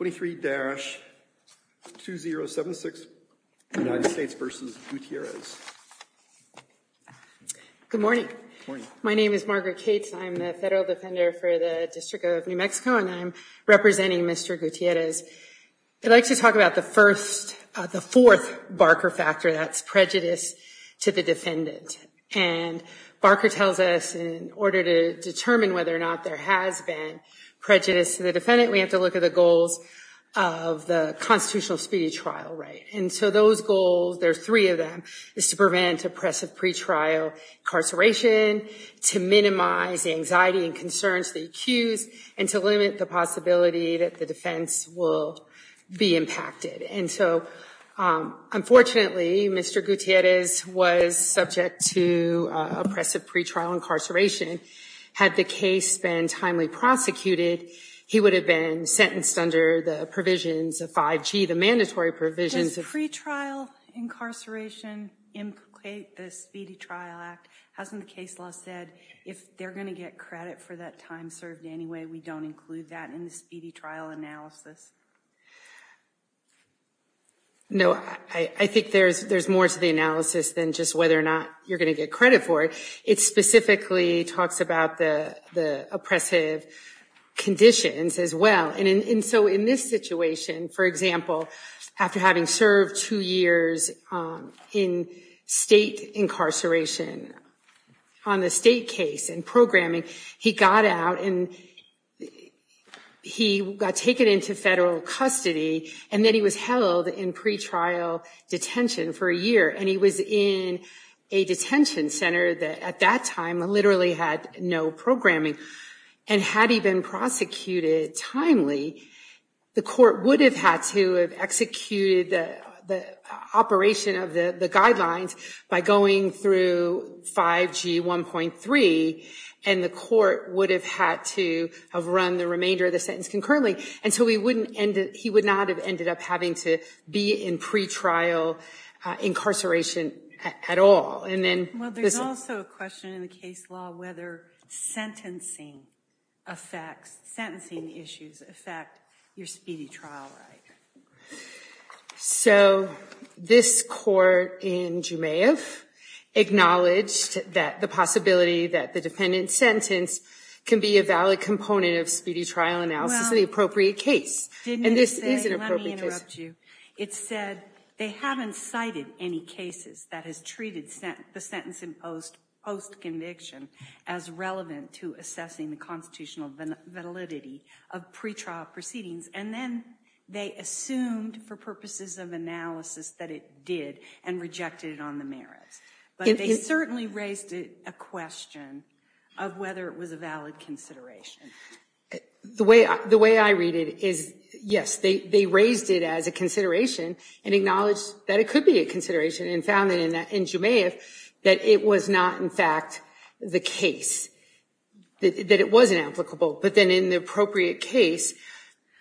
23-2076 United States v. Gutierrez Good morning. My name is Margaret Cates. I'm the federal defender for the District of New Mexico and I'm representing Mr. Gutierrez. I'd like to talk about the fourth Barker factor, that's prejudice to the defendant. And Barker tells us in order to determine whether or not there has been prejudice to the defendant, we have to look at the goals of the constitutional speedy trial right. And so those goals, there's three of them, is to prevent oppressive pretrial incarceration, to minimize the anxiety and concerns of the accused, and to limit the possibility that the defense will be impacted. And so unfortunately, Mr. Gutierrez was subject to oppressive pretrial incarceration. Had the case been timely prosecuted, he would have been sentenced under the provisions of 5G, the mandatory provisions of... Does pretrial incarceration implicate the Speedy Trial Act? Hasn't the case law said if they're going to get credit for that time served anyway, we don't include that in the speedy trial analysis? No, I think there's more to the analysis than just whether or not you're going to get credit for it. It specifically talks about the oppressive conditions as well. And so in this situation, for example, after having served two years in state incarceration on the state case and programming, he got out and he got taken into federal custody, and then he was held in pretrial detention for a year, and he was in a detention center that at that time literally had no programming. And had he been prosecuted timely, the court would have had to have executed the operation of the guidelines by going through 5G 1.3, and the court would have had to have run the remainder of the sentence concurrently. And so he would not have ended up having to be in pretrial incarceration at all. Well, there's also a question in the case law whether sentencing affects, sentencing issues affect your speedy trial right. So this court in Jumeif acknowledged that the possibility that the defendant's sentence can be a valid component of speedy trial analysis in the appropriate case. And this is an appropriate case. Let me interrupt you. It said they haven't cited any cases that has treated the sentence imposed post-conviction as relevant to assessing the constitutional validity of pretrial proceedings, and then they assumed for purposes of analysis that it did and rejected it on the merits. But they certainly raised a question of whether it was a valid consideration. The way I read it is, yes, they raised it as a consideration and acknowledged that it could be a consideration and found that in Jumeif that it was not in fact the case, that it was inapplicable. But then in the appropriate case,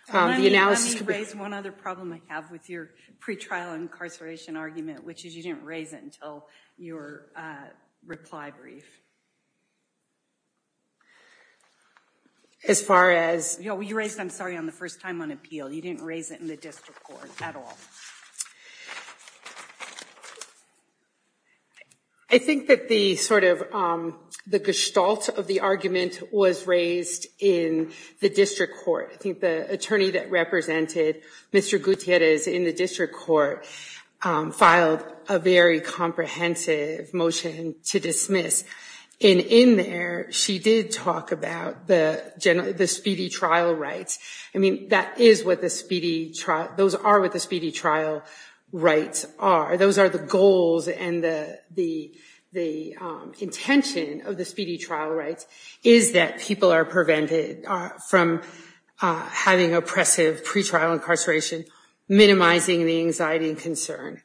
the analysis could be... Let me raise one other problem I have with your pretrial incarceration argument, which is you didn't raise it until your reply brief. As far as... No, you raised it, I'm sorry, on the first time on appeal. You didn't raise it in the district court at all. I think that the sort of, the gestalt of the argument was raised in the district court. I think the attorney that represented Mr. Gutierrez in the district court filed a very comprehensive motion to dismiss. And in there, she did talk about the speedy trial rights. I mean, that is what the speedy trial... Those are what the speedy trial rights are. Those are the goals and the intention of the speedy trial rights is that people are prevented from having oppressive pretrial incarceration, minimizing the anxiety and concern.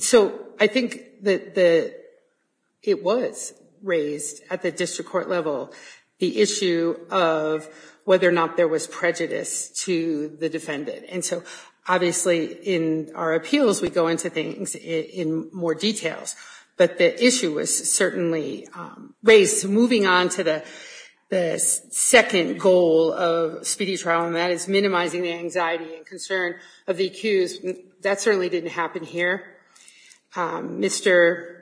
So I think that it was raised at the district court level, the issue of whether or not there was prejudice to the defendant. And so obviously in our appeals, we go into things in more detail, but the issue was certainly raised. Moving on to the second goal of speedy trial, and that is minimizing the anxiety and concern of the accused. That certainly didn't happen here. Mr.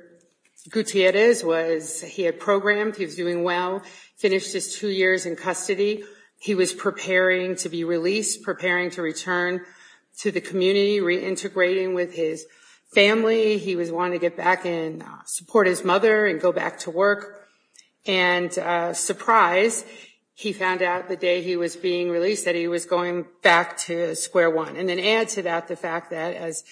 Gutierrez was... He had programmed, he was doing well, finished his two years in custody. He was preparing to be released, preparing to return to the community, reintegrating with his family. He was wanting to get back and support his mother and go back to work. And surprise, he found out the day he was being released that he was going back to square one. And then add to that the fact that as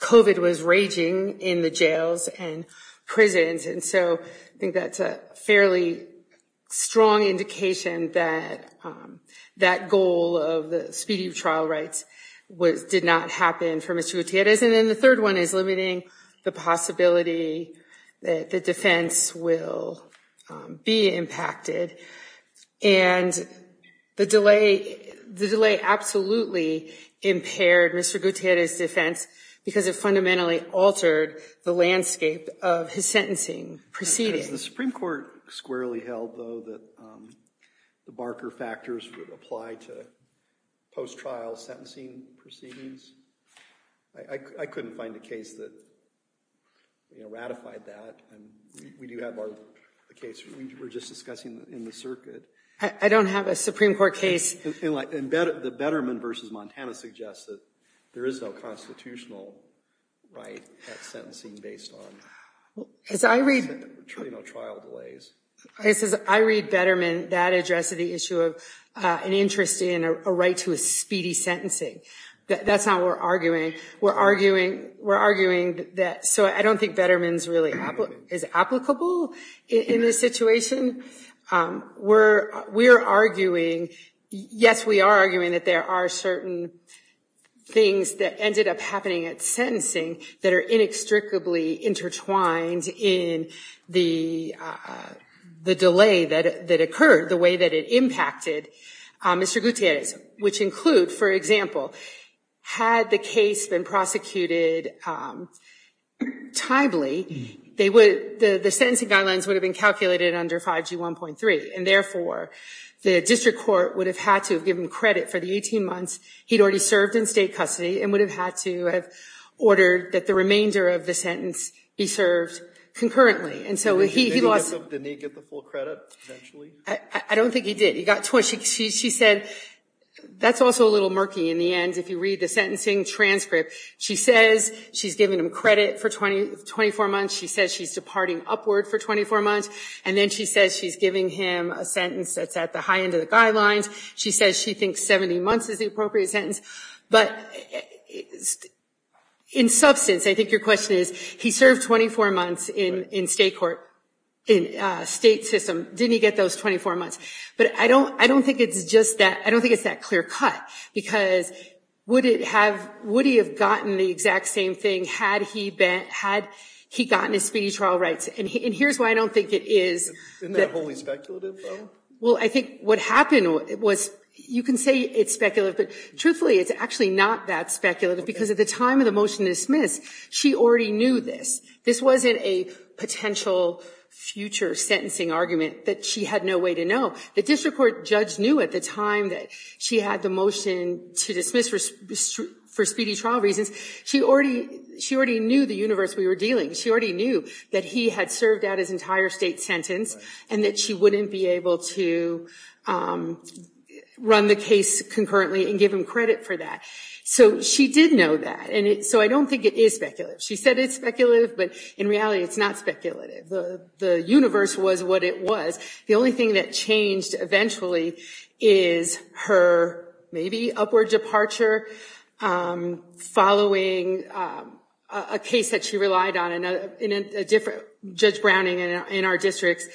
COVID was raging in the jails and prisons. And so I think that's a fairly strong indication that that goal of the speedy trial rights did not happen for Mr. Gutierrez. And then the third one is limiting the possibility that the defense will be impacted. And the delay absolutely impaired Mr. Gutierrez's defense because it fundamentally altered the landscape of his sentencing proceedings. Is the Supreme Court squarely held, though, that the Barker factors would apply to post-trial sentencing proceedings? I couldn't find a case that ratified that. And we do have a case we were just discussing in the circuit. I don't have a Supreme Court case. The Betterman v. Montana suggests that there is no constitutional right at sentencing based on... As I read... ...trial delays. As I read Betterman, that addressed the issue of an interest in a right to a speedy sentencing. That's not what we're arguing. We're arguing that... So I don't think Betterman is applicable in this situation. We're arguing... Yes, we are arguing that there are certain things that ended up happening at sentencing that are inextricably intertwined in the delay that occurred, the way that it impacted Mr. Gutierrez, which include, for example, had the case been prosecuted timely, the sentencing guidelines would have been calculated under 5G 1.3. And therefore, the district court would have had to have given credit for the 18 months he'd already served in state custody and would have had to have ordered that the remainder of the sentence be served concurrently. And so he lost... Didn't he get the full credit, potentially? I don't think he did. He got... She said... That's also a little murky in the end. If you read the sentencing transcript, she says she's given him credit for 24 months. She says she's departing upward for 24 months. And then she says she's giving him a sentence that's at the high end of the guidelines. She says she thinks 70 months is the appropriate sentence. But in substance, I think your question is, he served 24 months in state court, in state system. Didn't he get those 24 months? But I don't think it's just that... I don't think it's that clear cut. Because would he have gotten the exact same thing had he been... Had he gotten his speedy trial rights? And here's why I don't think it is... Isn't that wholly speculative, though? Well, I think what happened was... You can say it's speculative, but truthfully, it's actually not that speculative. Because at the time of the motion to dismiss, she already knew this. This wasn't a potential future sentencing argument that she had no way to know. The district court judge knew at the time that she had the motion to dismiss for speedy trial reasons. She already knew the universe we were dealing. She already knew that he had served out his entire state sentence and that she wouldn't be able to run the case concurrently and give him credit for that. So she did know that. And so I don't think it is speculative. She said it's speculative, but in reality, it's not speculative. The universe was what it was. The only thing that changed eventually is her, maybe, upward departure following a case that she relied on. Judge Browning, in our district's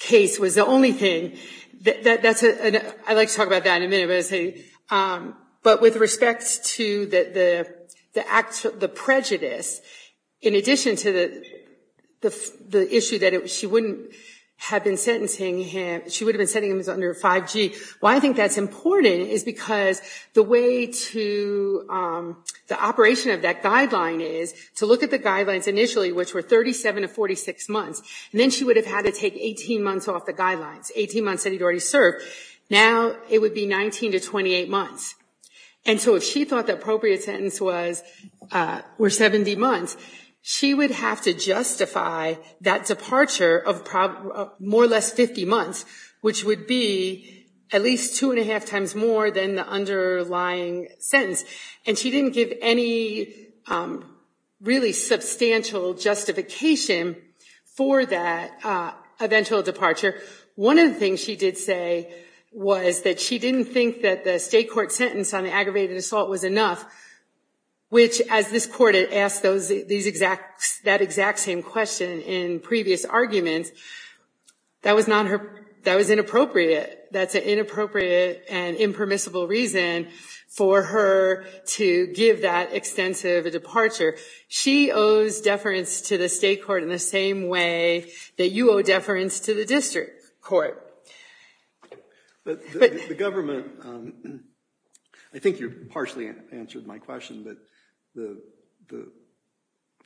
case, was the only thing. I'd like to talk about that in a minute. But with respect to the prejudice, in addition to the issue that she wouldn't have been sentencing him, she would have been sentencing him under 5G. Why I think that's important is because the way to the operation of that guideline is to look at the guidelines initially, which were 37 to 46 months, and then she would have had to take 18 months off the guidelines, 18 months that he'd already served. Now it would be 19 to 28 months. And so if she thought the appropriate sentence was 70 months, she would have to justify that departure of more or less 50 months, which would be at least two and a half times more than the underlying sentence. And she didn't give any really substantial justification for that eventual departure. One of the things she did say was that she didn't think that the state court sentence on the aggravated assault was enough, which, as this court had asked that exact same question in previous arguments, that was inappropriate. That's an inappropriate and impermissible reason for her to give that extensive a departure. She owes deference to the state court in the same way that you owe deference to the district court. But the government, I think you partially answered my question, but the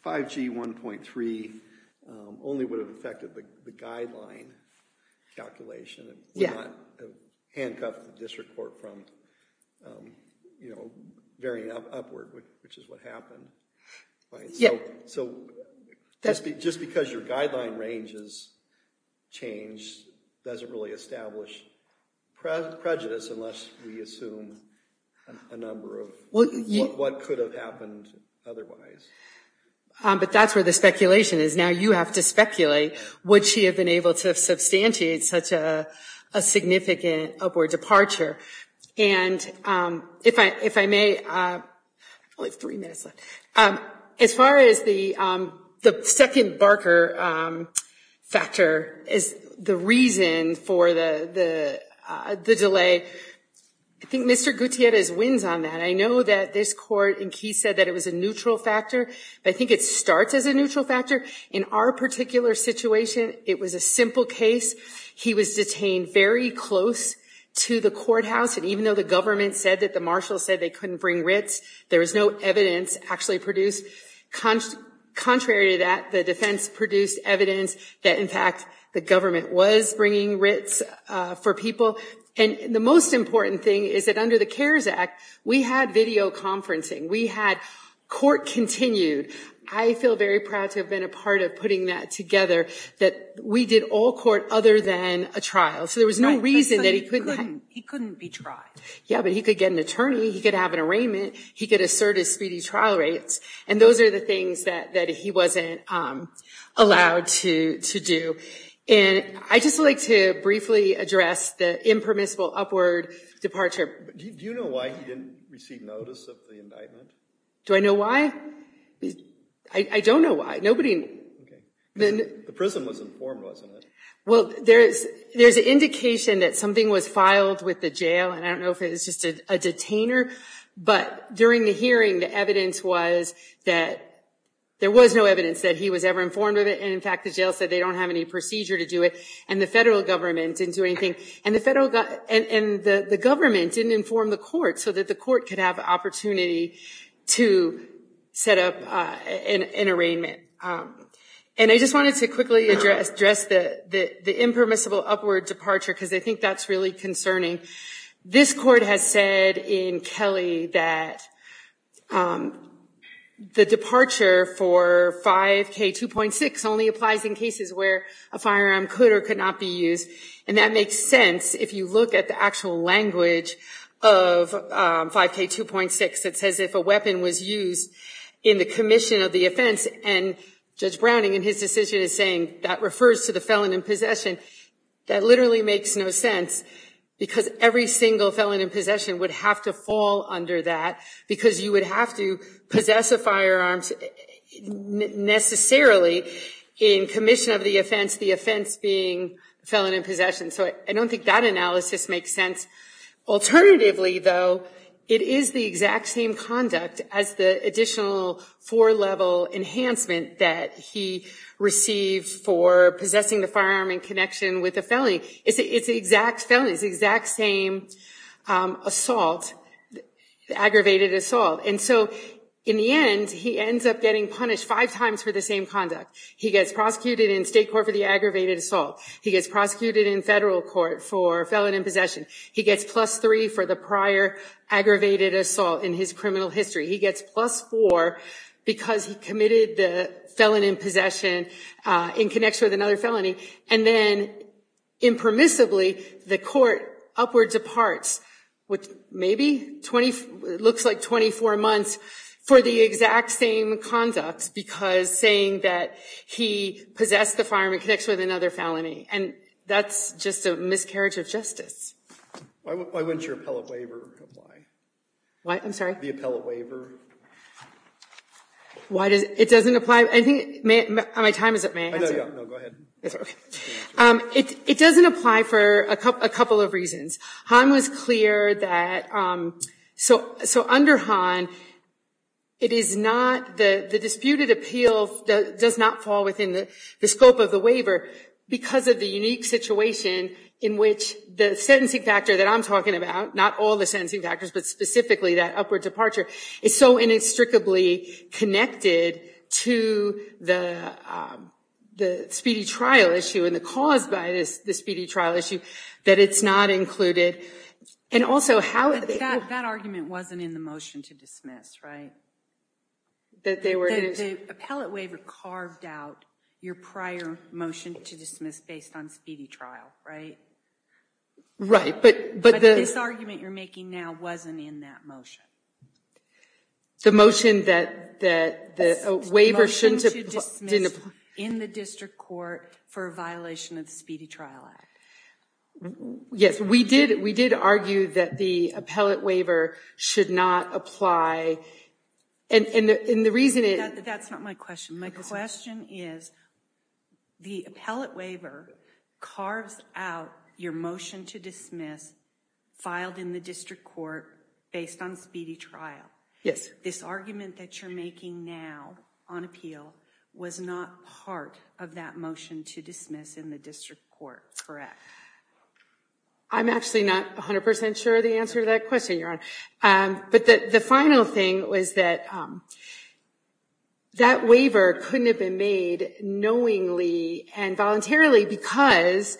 5G 1.3 only would have affected the guideline calculation. It would not have handcuffed the district court from varying upward, which is what happened. So just because your guideline range has changed doesn't really establish prejudice unless we assume a number of what could have happened otherwise. But that's where the speculation is. Now you have to speculate. Would she have been able to substantiate such a significant upward departure? And if I may, only three minutes left. As far as the second Barker factor is the reason for the delay, I think Mr. Gutierrez wins on that. I know that this court in Keyes said that it was a neutral factor. I think it starts as a neutral factor. In our particular situation, it was a simple case. He was detained very close to the courthouse. And even though the government said that the marshal said they couldn't bring writs, there was no evidence actually produced. Contrary to that, the defense produced evidence that, in fact, the government was bringing writs for people. And the most important thing is that under the CARES Act, we had video conferencing. We had court continued. I feel very proud to have been a part of putting that together, that we did all court other than a trial. So there was no reason that he couldn't have – He couldn't be tried. Yeah, but he could get an attorney. He could have an arraignment. He could assert his speedy trial rates. And those are the things that he wasn't allowed to do. And I'd just like to briefly address the impermissible upward departure. Do you know why he didn't receive notice of the indictment? Do I know why? I don't know why. Nobody – Okay. The prison was informed, wasn't it? Well, there's an indication that something was filed with the jail. And I don't know if it was just a detainer. But during the hearing, the evidence was that there was no evidence that he was ever informed of it. And, in fact, the jail said they don't have any procedure to do it. And the federal government didn't do anything. And the federal – and the government didn't inform the court so that the court could have opportunity to set up an arraignment. And I just wanted to quickly address the impermissible upward departure because I think that's really concerning. This court has said in Kelly that the departure for 5K2.6 only applies in cases where a firearm could or could not be used. And that makes sense if you look at the actual language of 5K2.6 that says if a weapon was used in the commission of the offense and Judge Browning in his decision is saying that refers to the felon in possession. That literally makes no sense because every single felon in possession would have to fall the offense being felon in possession. So I don't think that analysis makes sense. Alternatively, though, it is the exact same conduct as the additional four-level enhancement that he received for possessing the firearm in connection with the felony. It's the exact felony. It's the exact same assault, aggravated assault. And so, in the end, he ends up getting punished five times for the same conduct. He gets prosecuted in state court for the aggravated assault. He gets prosecuted in federal court for felon in possession. He gets plus three for the prior aggravated assault in his criminal history. He gets plus four because he committed the felon in possession in connection with another felony. And then, impermissibly, the court upwards departs, which maybe looks like 24 months for the exact same conduct because saying that he possessed the firearm in connection with another felony. And that's just a miscarriage of justice. Why wouldn't your appellate waiver apply? What? I'm sorry? The appellate waiver. Why does it? It doesn't apply. I think my time is up. May I answer? No, go ahead. It doesn't apply for a couple of reasons. Hahn was clear that, so under Hahn, it is not, the disputed appeal does not fall within the scope of the waiver because of the unique situation in which the sentencing factor that I'm talking about, not all the sentencing factors, but specifically that upward departure, is so inextricably connected to the speedy trial issue and the cause by the speedy trial issue that it's not included. And also, how That argument wasn't in the motion to dismiss, right? The appellate waiver carved out your prior motion to dismiss based on speedy trial, right? Right, but But this argument you're making now wasn't in that motion. The motion that the waiver shouldn't The motion to dismiss in the district court for a violation of the Speedy Trial Act. Yes, we did argue that the appellate waiver should not apply, and the reason it That's not my question. My question is, the appellate waiver carves out your motion to dismiss filed in the district court based on speedy trial. This argument that you're making now on appeal was not part of that motion to dismiss in the district court, correct? I'm actually not 100% sure of the answer to that question, Your Honor. But the final thing was that that waiver couldn't have been made knowingly and voluntarily because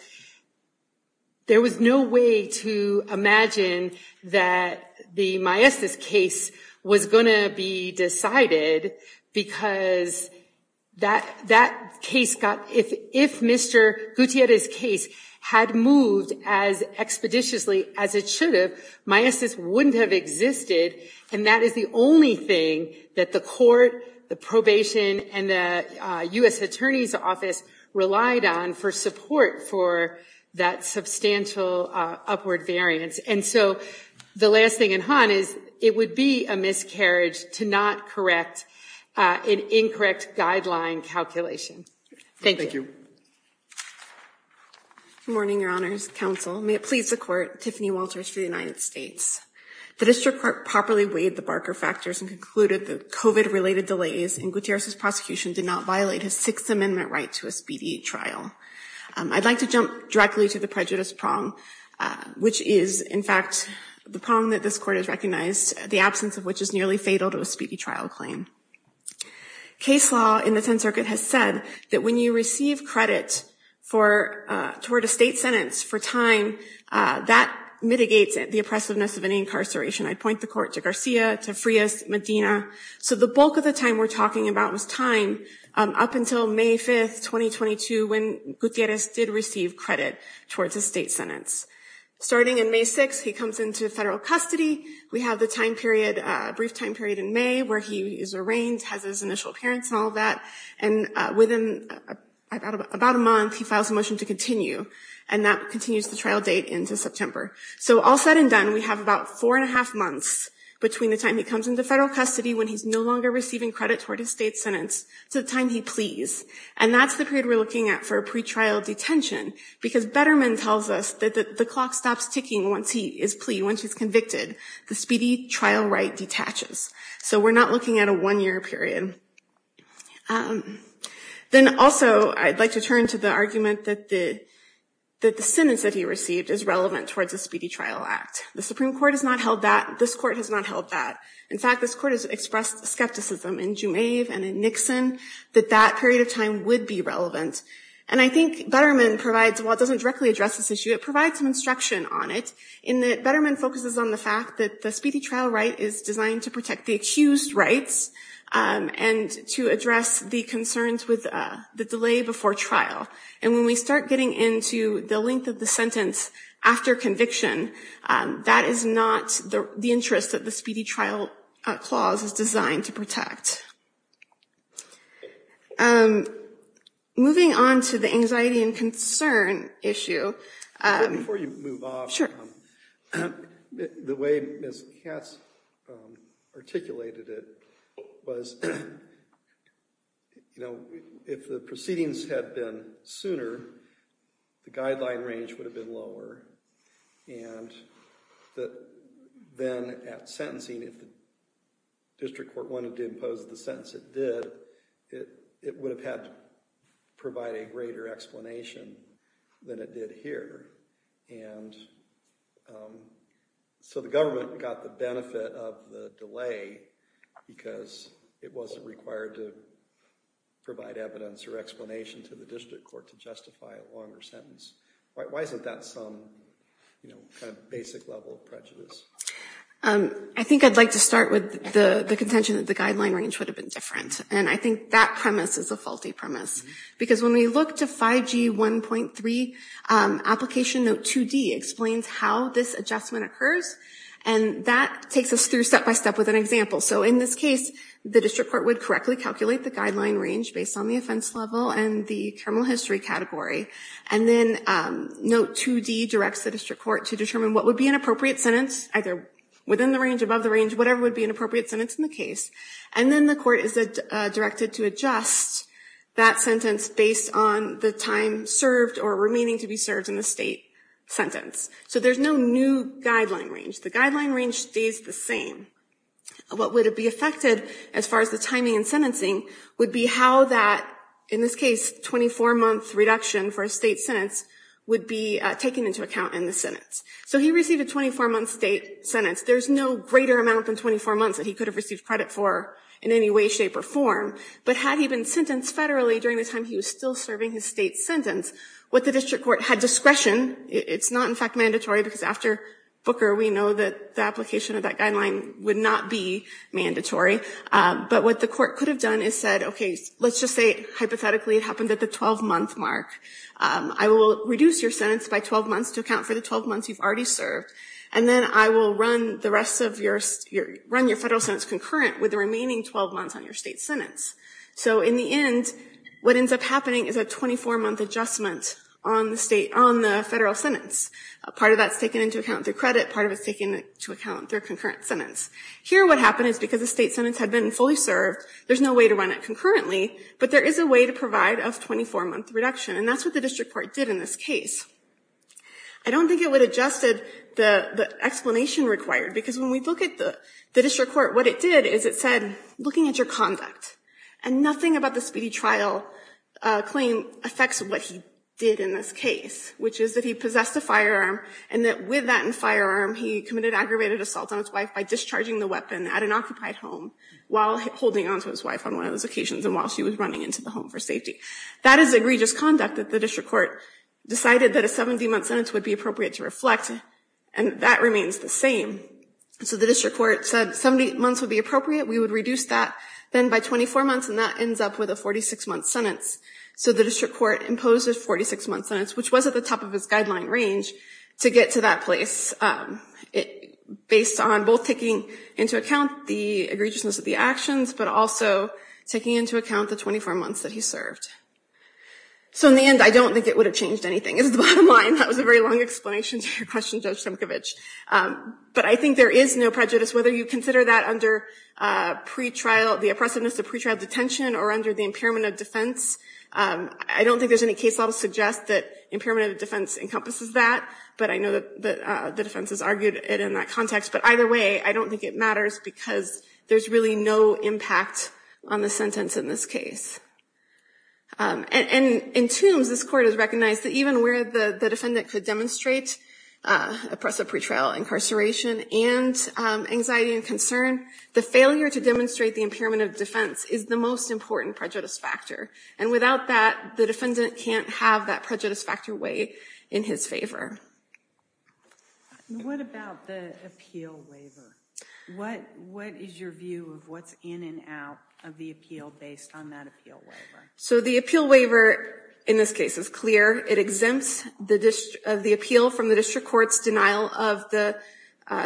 there was no way to imagine that the Maestas case was going to be decided because that case got, if Mr. Gutierrez's case had moved as expeditiously as it should have, Maestas wouldn't have existed, and that is the only thing that the court, the probation, and the U.S. Attorney's Office relied on for support for that substantial upward variance. And so the last thing, and Han, is it would be a miscarriage to not correct an incorrect guideline calculation. Thank you. Good morning, Your Honors, counsel. May it please the court, Tiffany Walters for the United States. The district court properly weighed the Barker factors and concluded that COVID-related delays in Gutierrez's prosecution did not violate his Sixth Amendment right to a speedy trial. I'd like to jump directly to the prejudice prong, which is, in fact, the prong that this court has recognized, the absence of which is nearly fatal to a speedy trial claim. Case law in the Tenth Circuit has said that when you receive credit for, toward a state sentence for time, that mitigates the oppressiveness of any incarceration. I'd point the court to Garcia, to Frias, Medina. So the bulk of the time we're talking about was time up until May 5, 2022, when Gutierrez did receive credit towards a state sentence. Starting in May 6, he comes into federal custody. We have the time period, a brief time period in May, where he is arraigned, has his initial appearance and all that. And within about a month, he files a motion to continue. And that continues the trial date into September. So all said and done, we have about four and a half months between the time he comes into federal custody, when he's no longer receiving credit toward his state sentence, to the time he pleas. And that's the period we're looking at for a pretrial detention, because Betterman tells us that the clock stops ticking once he is plea, once he's convicted. The speedy trial right detaches. So we're not looking at a one-year period. Then also, I'd like to turn to the argument that the sentence that he received is relevant towards the Speedy Trial Act. The Supreme Court has not held that. This court has not held that. In fact, this court has expressed skepticism in Jumaive and in Nixon that that period of time would be relevant. And I think Betterman provides, while it doesn't directly address this issue, it provides some instruction on it, in that Betterman focuses on the fact that the speedy trial right is designed to protect the accused's rights and to address the concerns with the delay before trial. And when we start getting into the length of the sentence after conviction, that is not the interest that the speedy trial clause is designed to protect. Moving on to the anxiety and concern issue. Before you move on, the way Ms. Katz articulated it was, you know, if the proceedings had been sooner, the guideline range would have been lower. And then at sentencing, if the district court wanted to impose the sentence it did, it would have had to provide a greater explanation than it did here. And so the government got the benefit of the delay because it wasn't required to provide evidence or explanation to the district court to justify a longer sentence. Why isn't that some kind of basic level of prejudice? I think I'd like to start with the contention that the guideline range would have been different. And I think that premise is a faulty premise. Because when we look to 5G 1.3, application note 2D explains how this adjustment occurs. And that takes us through step by step with an example. So in this case, the district court would correctly calculate the guideline range based on the offense level and the criminal history category. And then note 2D directs the district court to determine what would be an appropriate sentence, either within the range, above the range, whatever would be an appropriate sentence in the case. And then the court is directed to adjust that sentence based on the time served or remaining to be served in the state sentence. So there's no new guideline range. The guideline range stays the same. What would be affected as far as the timing and sentencing would be how that, in this case, 24-month reduction for a state sentence would be taken into account in the sentence. So he received a 24-month state sentence. There's no greater amount than 24 months that he could have received credit for in any way, shape, or form. But had he been sentenced federally during the time he was still serving his state sentence, what the district court had discretion, it's not in fact mandatory because after Booker we know that the application of that guideline would not be mandatory. But what the court could have done is said, okay, let's just say hypothetically it happened at the 12-month mark. I will reduce your sentence by 12 months to account for the 12 months you've already served. And then I will run the rest of your, run your federal sentence concurrent with the remaining 12 months on your state sentence. So in the end, what ends up happening is a 24-month adjustment on the state, on the federal sentence. Part of that's taken into account through credit. Part of it's taken into account through concurrent sentence. Here what happened is because the state sentence had been fully served, there's no way to run it concurrently. But there is a way to provide a 24-month reduction. And that's what the district court did in this case. I don't think it would have adjusted the explanation required. Because when we look at the district court, what it did is it said, looking at your conduct. And nothing about the speedy trial claim affects what he did in this case, which is that he possessed a firearm and that with that firearm he committed aggravated assault on his wife by discharging the weapon at an occupied home while holding onto his wife on one of those occasions and while she was running into the home for safety. That is egregious conduct that the district court decided that a 70-month sentence would be appropriate to reflect. And that remains the same. So the district court said 70 months would be appropriate. We would reduce that then by 24 months. And that ends up with a 46-month sentence. So the district court imposed a 46-month sentence, which was at the top of its guideline range to get to that place. Based on both taking into account the egregiousness of the actions, but also taking into account the 24 months that he served. So in the end, I don't think it would have changed anything, is the bottom line. That was a very long explanation to your question, Judge Simcovich. But I think there is no prejudice, whether you consider that under the oppressiveness of pretrial detention or under the impairment of defense. I don't think there's any case law to suggest that impairment of defense encompasses that. But I know that the defense has argued it in that context. But either way, I don't think it matters because there's really no impact on the sentence in this case. And in Tombs, this court has recognized that even where the defendant could demonstrate oppressive pretrial incarceration and anxiety and concern, the failure to demonstrate the impairment of defense is the most important prejudice factor. And without that, the defendant can't have that prejudice factor weigh in his favor. What about the appeal waiver? What is your view of what's in and out of the appeal based on that appeal waiver? So the appeal waiver in this case is clear. It exempts the appeal from the district court's denial of the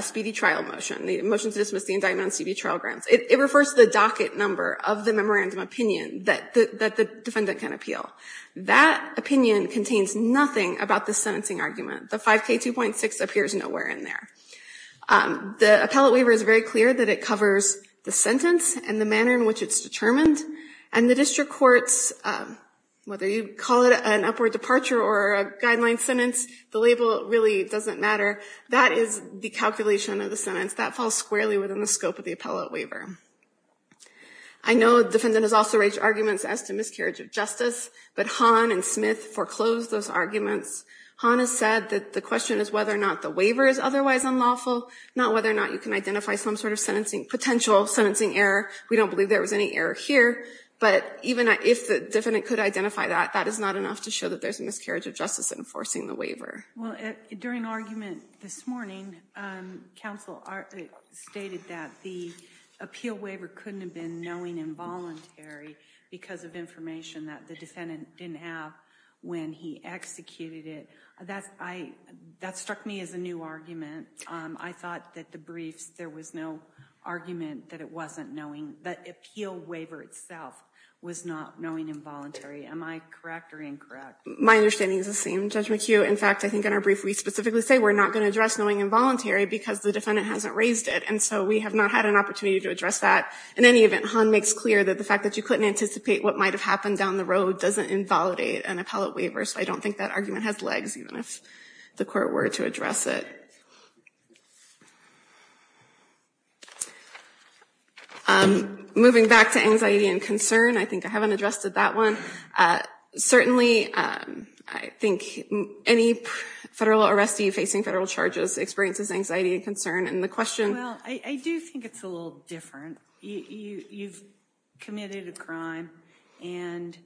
speedy trial motion, the motion to dismiss the indictment on CB trial grounds. It refers to the docket number of the memorandum opinion that the defendant can appeal. That opinion contains nothing about the sentencing argument. The 5K2.6 appears nowhere in there. The appellate waiver is very clear that it covers the sentence and the manner in which it's determined. And the district court's, whether you call it an upward departure or a guideline sentence, the label really doesn't matter. That is the calculation of the sentence. That falls squarely within the scope of the appellate waiver. I know the defendant has also raised arguments as to miscarriage of justice. But Hahn and Smith foreclosed those arguments. Hahn has said that the question is whether or not the waiver is otherwise unlawful, not whether or not you can identify some sort of potential sentencing error. We don't believe there was any error here. But even if the defendant could identify that, that is not enough to show that there's a miscarriage of justice enforcing the waiver. Well, during argument this morning, counsel stated that the appeal waiver couldn't have been knowing involuntary because of information that the defendant didn't have when he executed it. That struck me as a new argument. I thought that the briefs, there was no argument that it wasn't knowing, that the appeal waiver itself was not knowing involuntary. Am I correct or incorrect? My understanding is the same, Judge McHugh. In fact, I think in our brief we specifically say we're not going to address knowing involuntary because the defendant raised it. And so we have not had an opportunity to address that. In any event, Hahn makes clear that the fact that you couldn't anticipate what might have happened down the road doesn't invalidate an appellate waiver. So I don't think that argument has legs, even if the court were to address it. Moving back to anxiety and concern, I think I haven't addressed that one. Certainly, I think any federal arrestee facing federal charges experiences anxiety and concern. I do think it's a little different. You've committed a crime and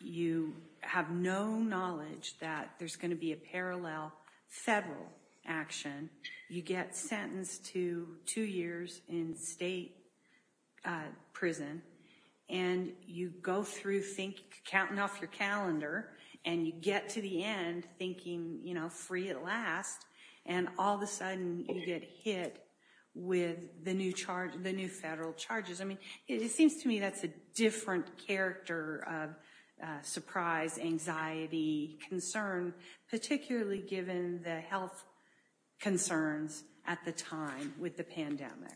you have no knowledge that there's going to be a parallel federal action. You get sentenced to two years in state prison and you go through counting off your calendar and you get to the end thinking, you know, free at last. And all of a sudden you get hit with the new federal charges. I mean, it seems to me that's a different character of surprise, anxiety, concern, particularly given the health concerns at the time with the pandemic.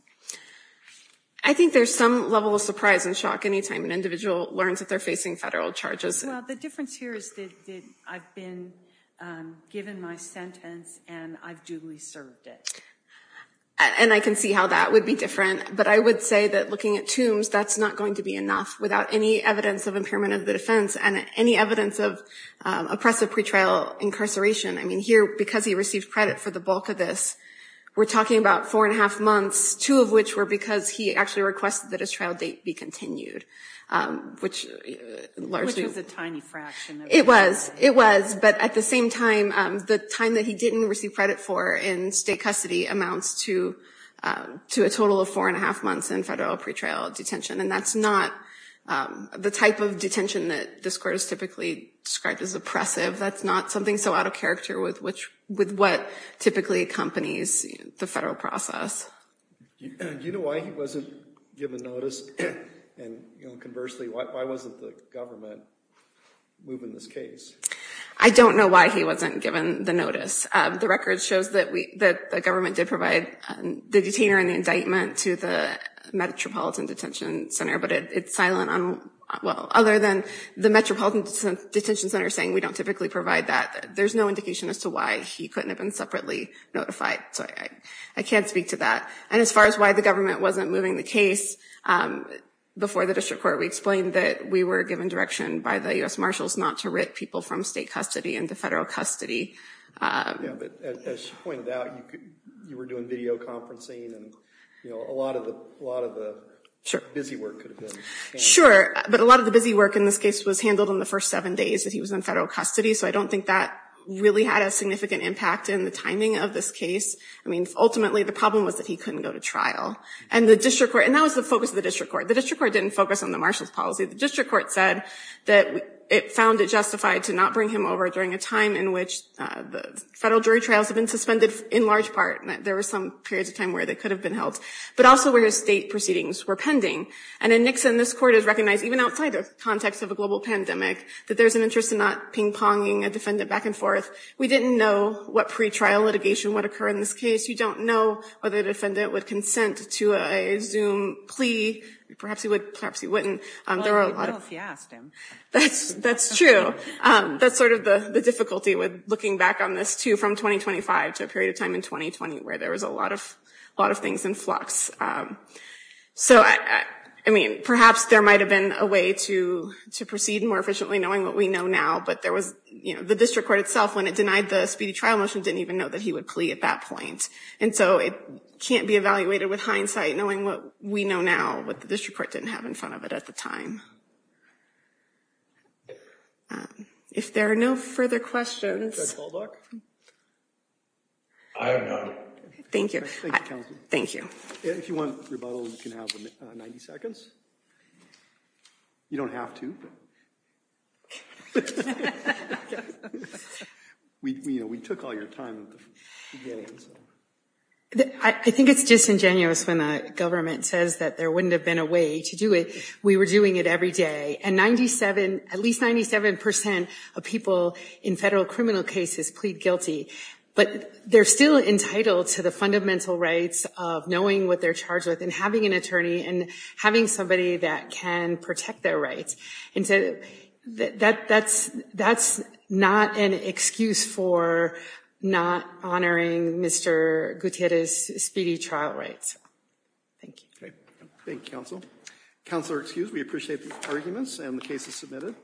I think there's some level of surprise and shock any time an individual learns that they're facing federal charges. Well, the difference here is that I've been given my sentence and I've duly served it. And I can see how that would be different. But I would say that looking at Tombs, that's not going to be enough without any evidence of impairment of the defense and any evidence of oppressive pretrial incarceration. I mean, here, because he received credit for the bulk of this, we're talking about four and a half months, two of which were because he actually requested that his trial date be continued, which largely Which was a tiny fraction. It was. It was. But at the same time, the time that he didn't receive credit for in state custody amounts to a total of four and a half months in federal pretrial detention. And that's not the type of detention that this court has typically described as oppressive. That's not something so out of character with what typically accompanies the federal process. Do you know why he wasn't given notice? And conversely, why wasn't the government moving this case? I don't know why he wasn't given the notice. The record shows that the government did provide the detainer and the indictment to the Metropolitan Detention Center, but it's silent on, well, other than the Metropolitan Detention Center saying we don't typically provide that. There's no indication as to why he couldn't have been separately notified. So I can't speak to that. And as far as why the government wasn't moving the case, before the district court, we explained that we were given direction by the U.S. Marshals not to writ people from state custody into federal custody. Yeah, but as you pointed out, you were doing video conferencing and, you know, a lot of the busy work could have been handled. Sure. But a lot of the busy work in this case was handled in the first seven days that he was in federal custody. So I don't think that really had a problem was that he couldn't go to trial. And the district court, and that was the focus of the district court. The district court didn't focus on the marshal's policy. The district court said that it found it justified to not bring him over during a time in which the federal jury trials have been suspended in large part. There were some periods of time where they could have been held. But also where state proceedings were pending. And in Nixon, this court has recognized, even outside the context of a global pandemic, that there's an interest in not ping-ponging a defendant back and forth. We didn't know what pretrial litigation would occur in this case. You don't know whether the defendant would consent to a Zoom plea. Perhaps he would, perhaps he wouldn't. Well, we would if you asked him. That's true. That's sort of the difficulty with looking back on this, too, from 2025 to a period of time in 2020 where there was a lot of things in So, I mean, perhaps there might have been a way to proceed more efficiently knowing what we know now. But there was, you know, the district court itself, when it denied the speedy trial motion, didn't even know that So it can't be evaluated with hindsight knowing what we know now, what the district court didn't have in front of it at the time. If there are no further questions... I have none. Thank you. Thank you, counsel. If you want rebuttal, you can have 90 seconds. You don't have to. We took all your time at the beginning. I think it's disingenuous when the government says that there wouldn't have been a way to do it. We were doing it every day. And 97, at least 97 percent of people in federal criminal cases plead guilty. But they're still entitled to the fundamental rights of knowing what they're charged with and having an attorney and having somebody that can protect their rights. And so that's not an excuse for not honoring Mr. Gutierrez's speedy trial rights. Thank you. Thank you, counsel. Counselor, excused. We appreciate the arguments and the cases submitted.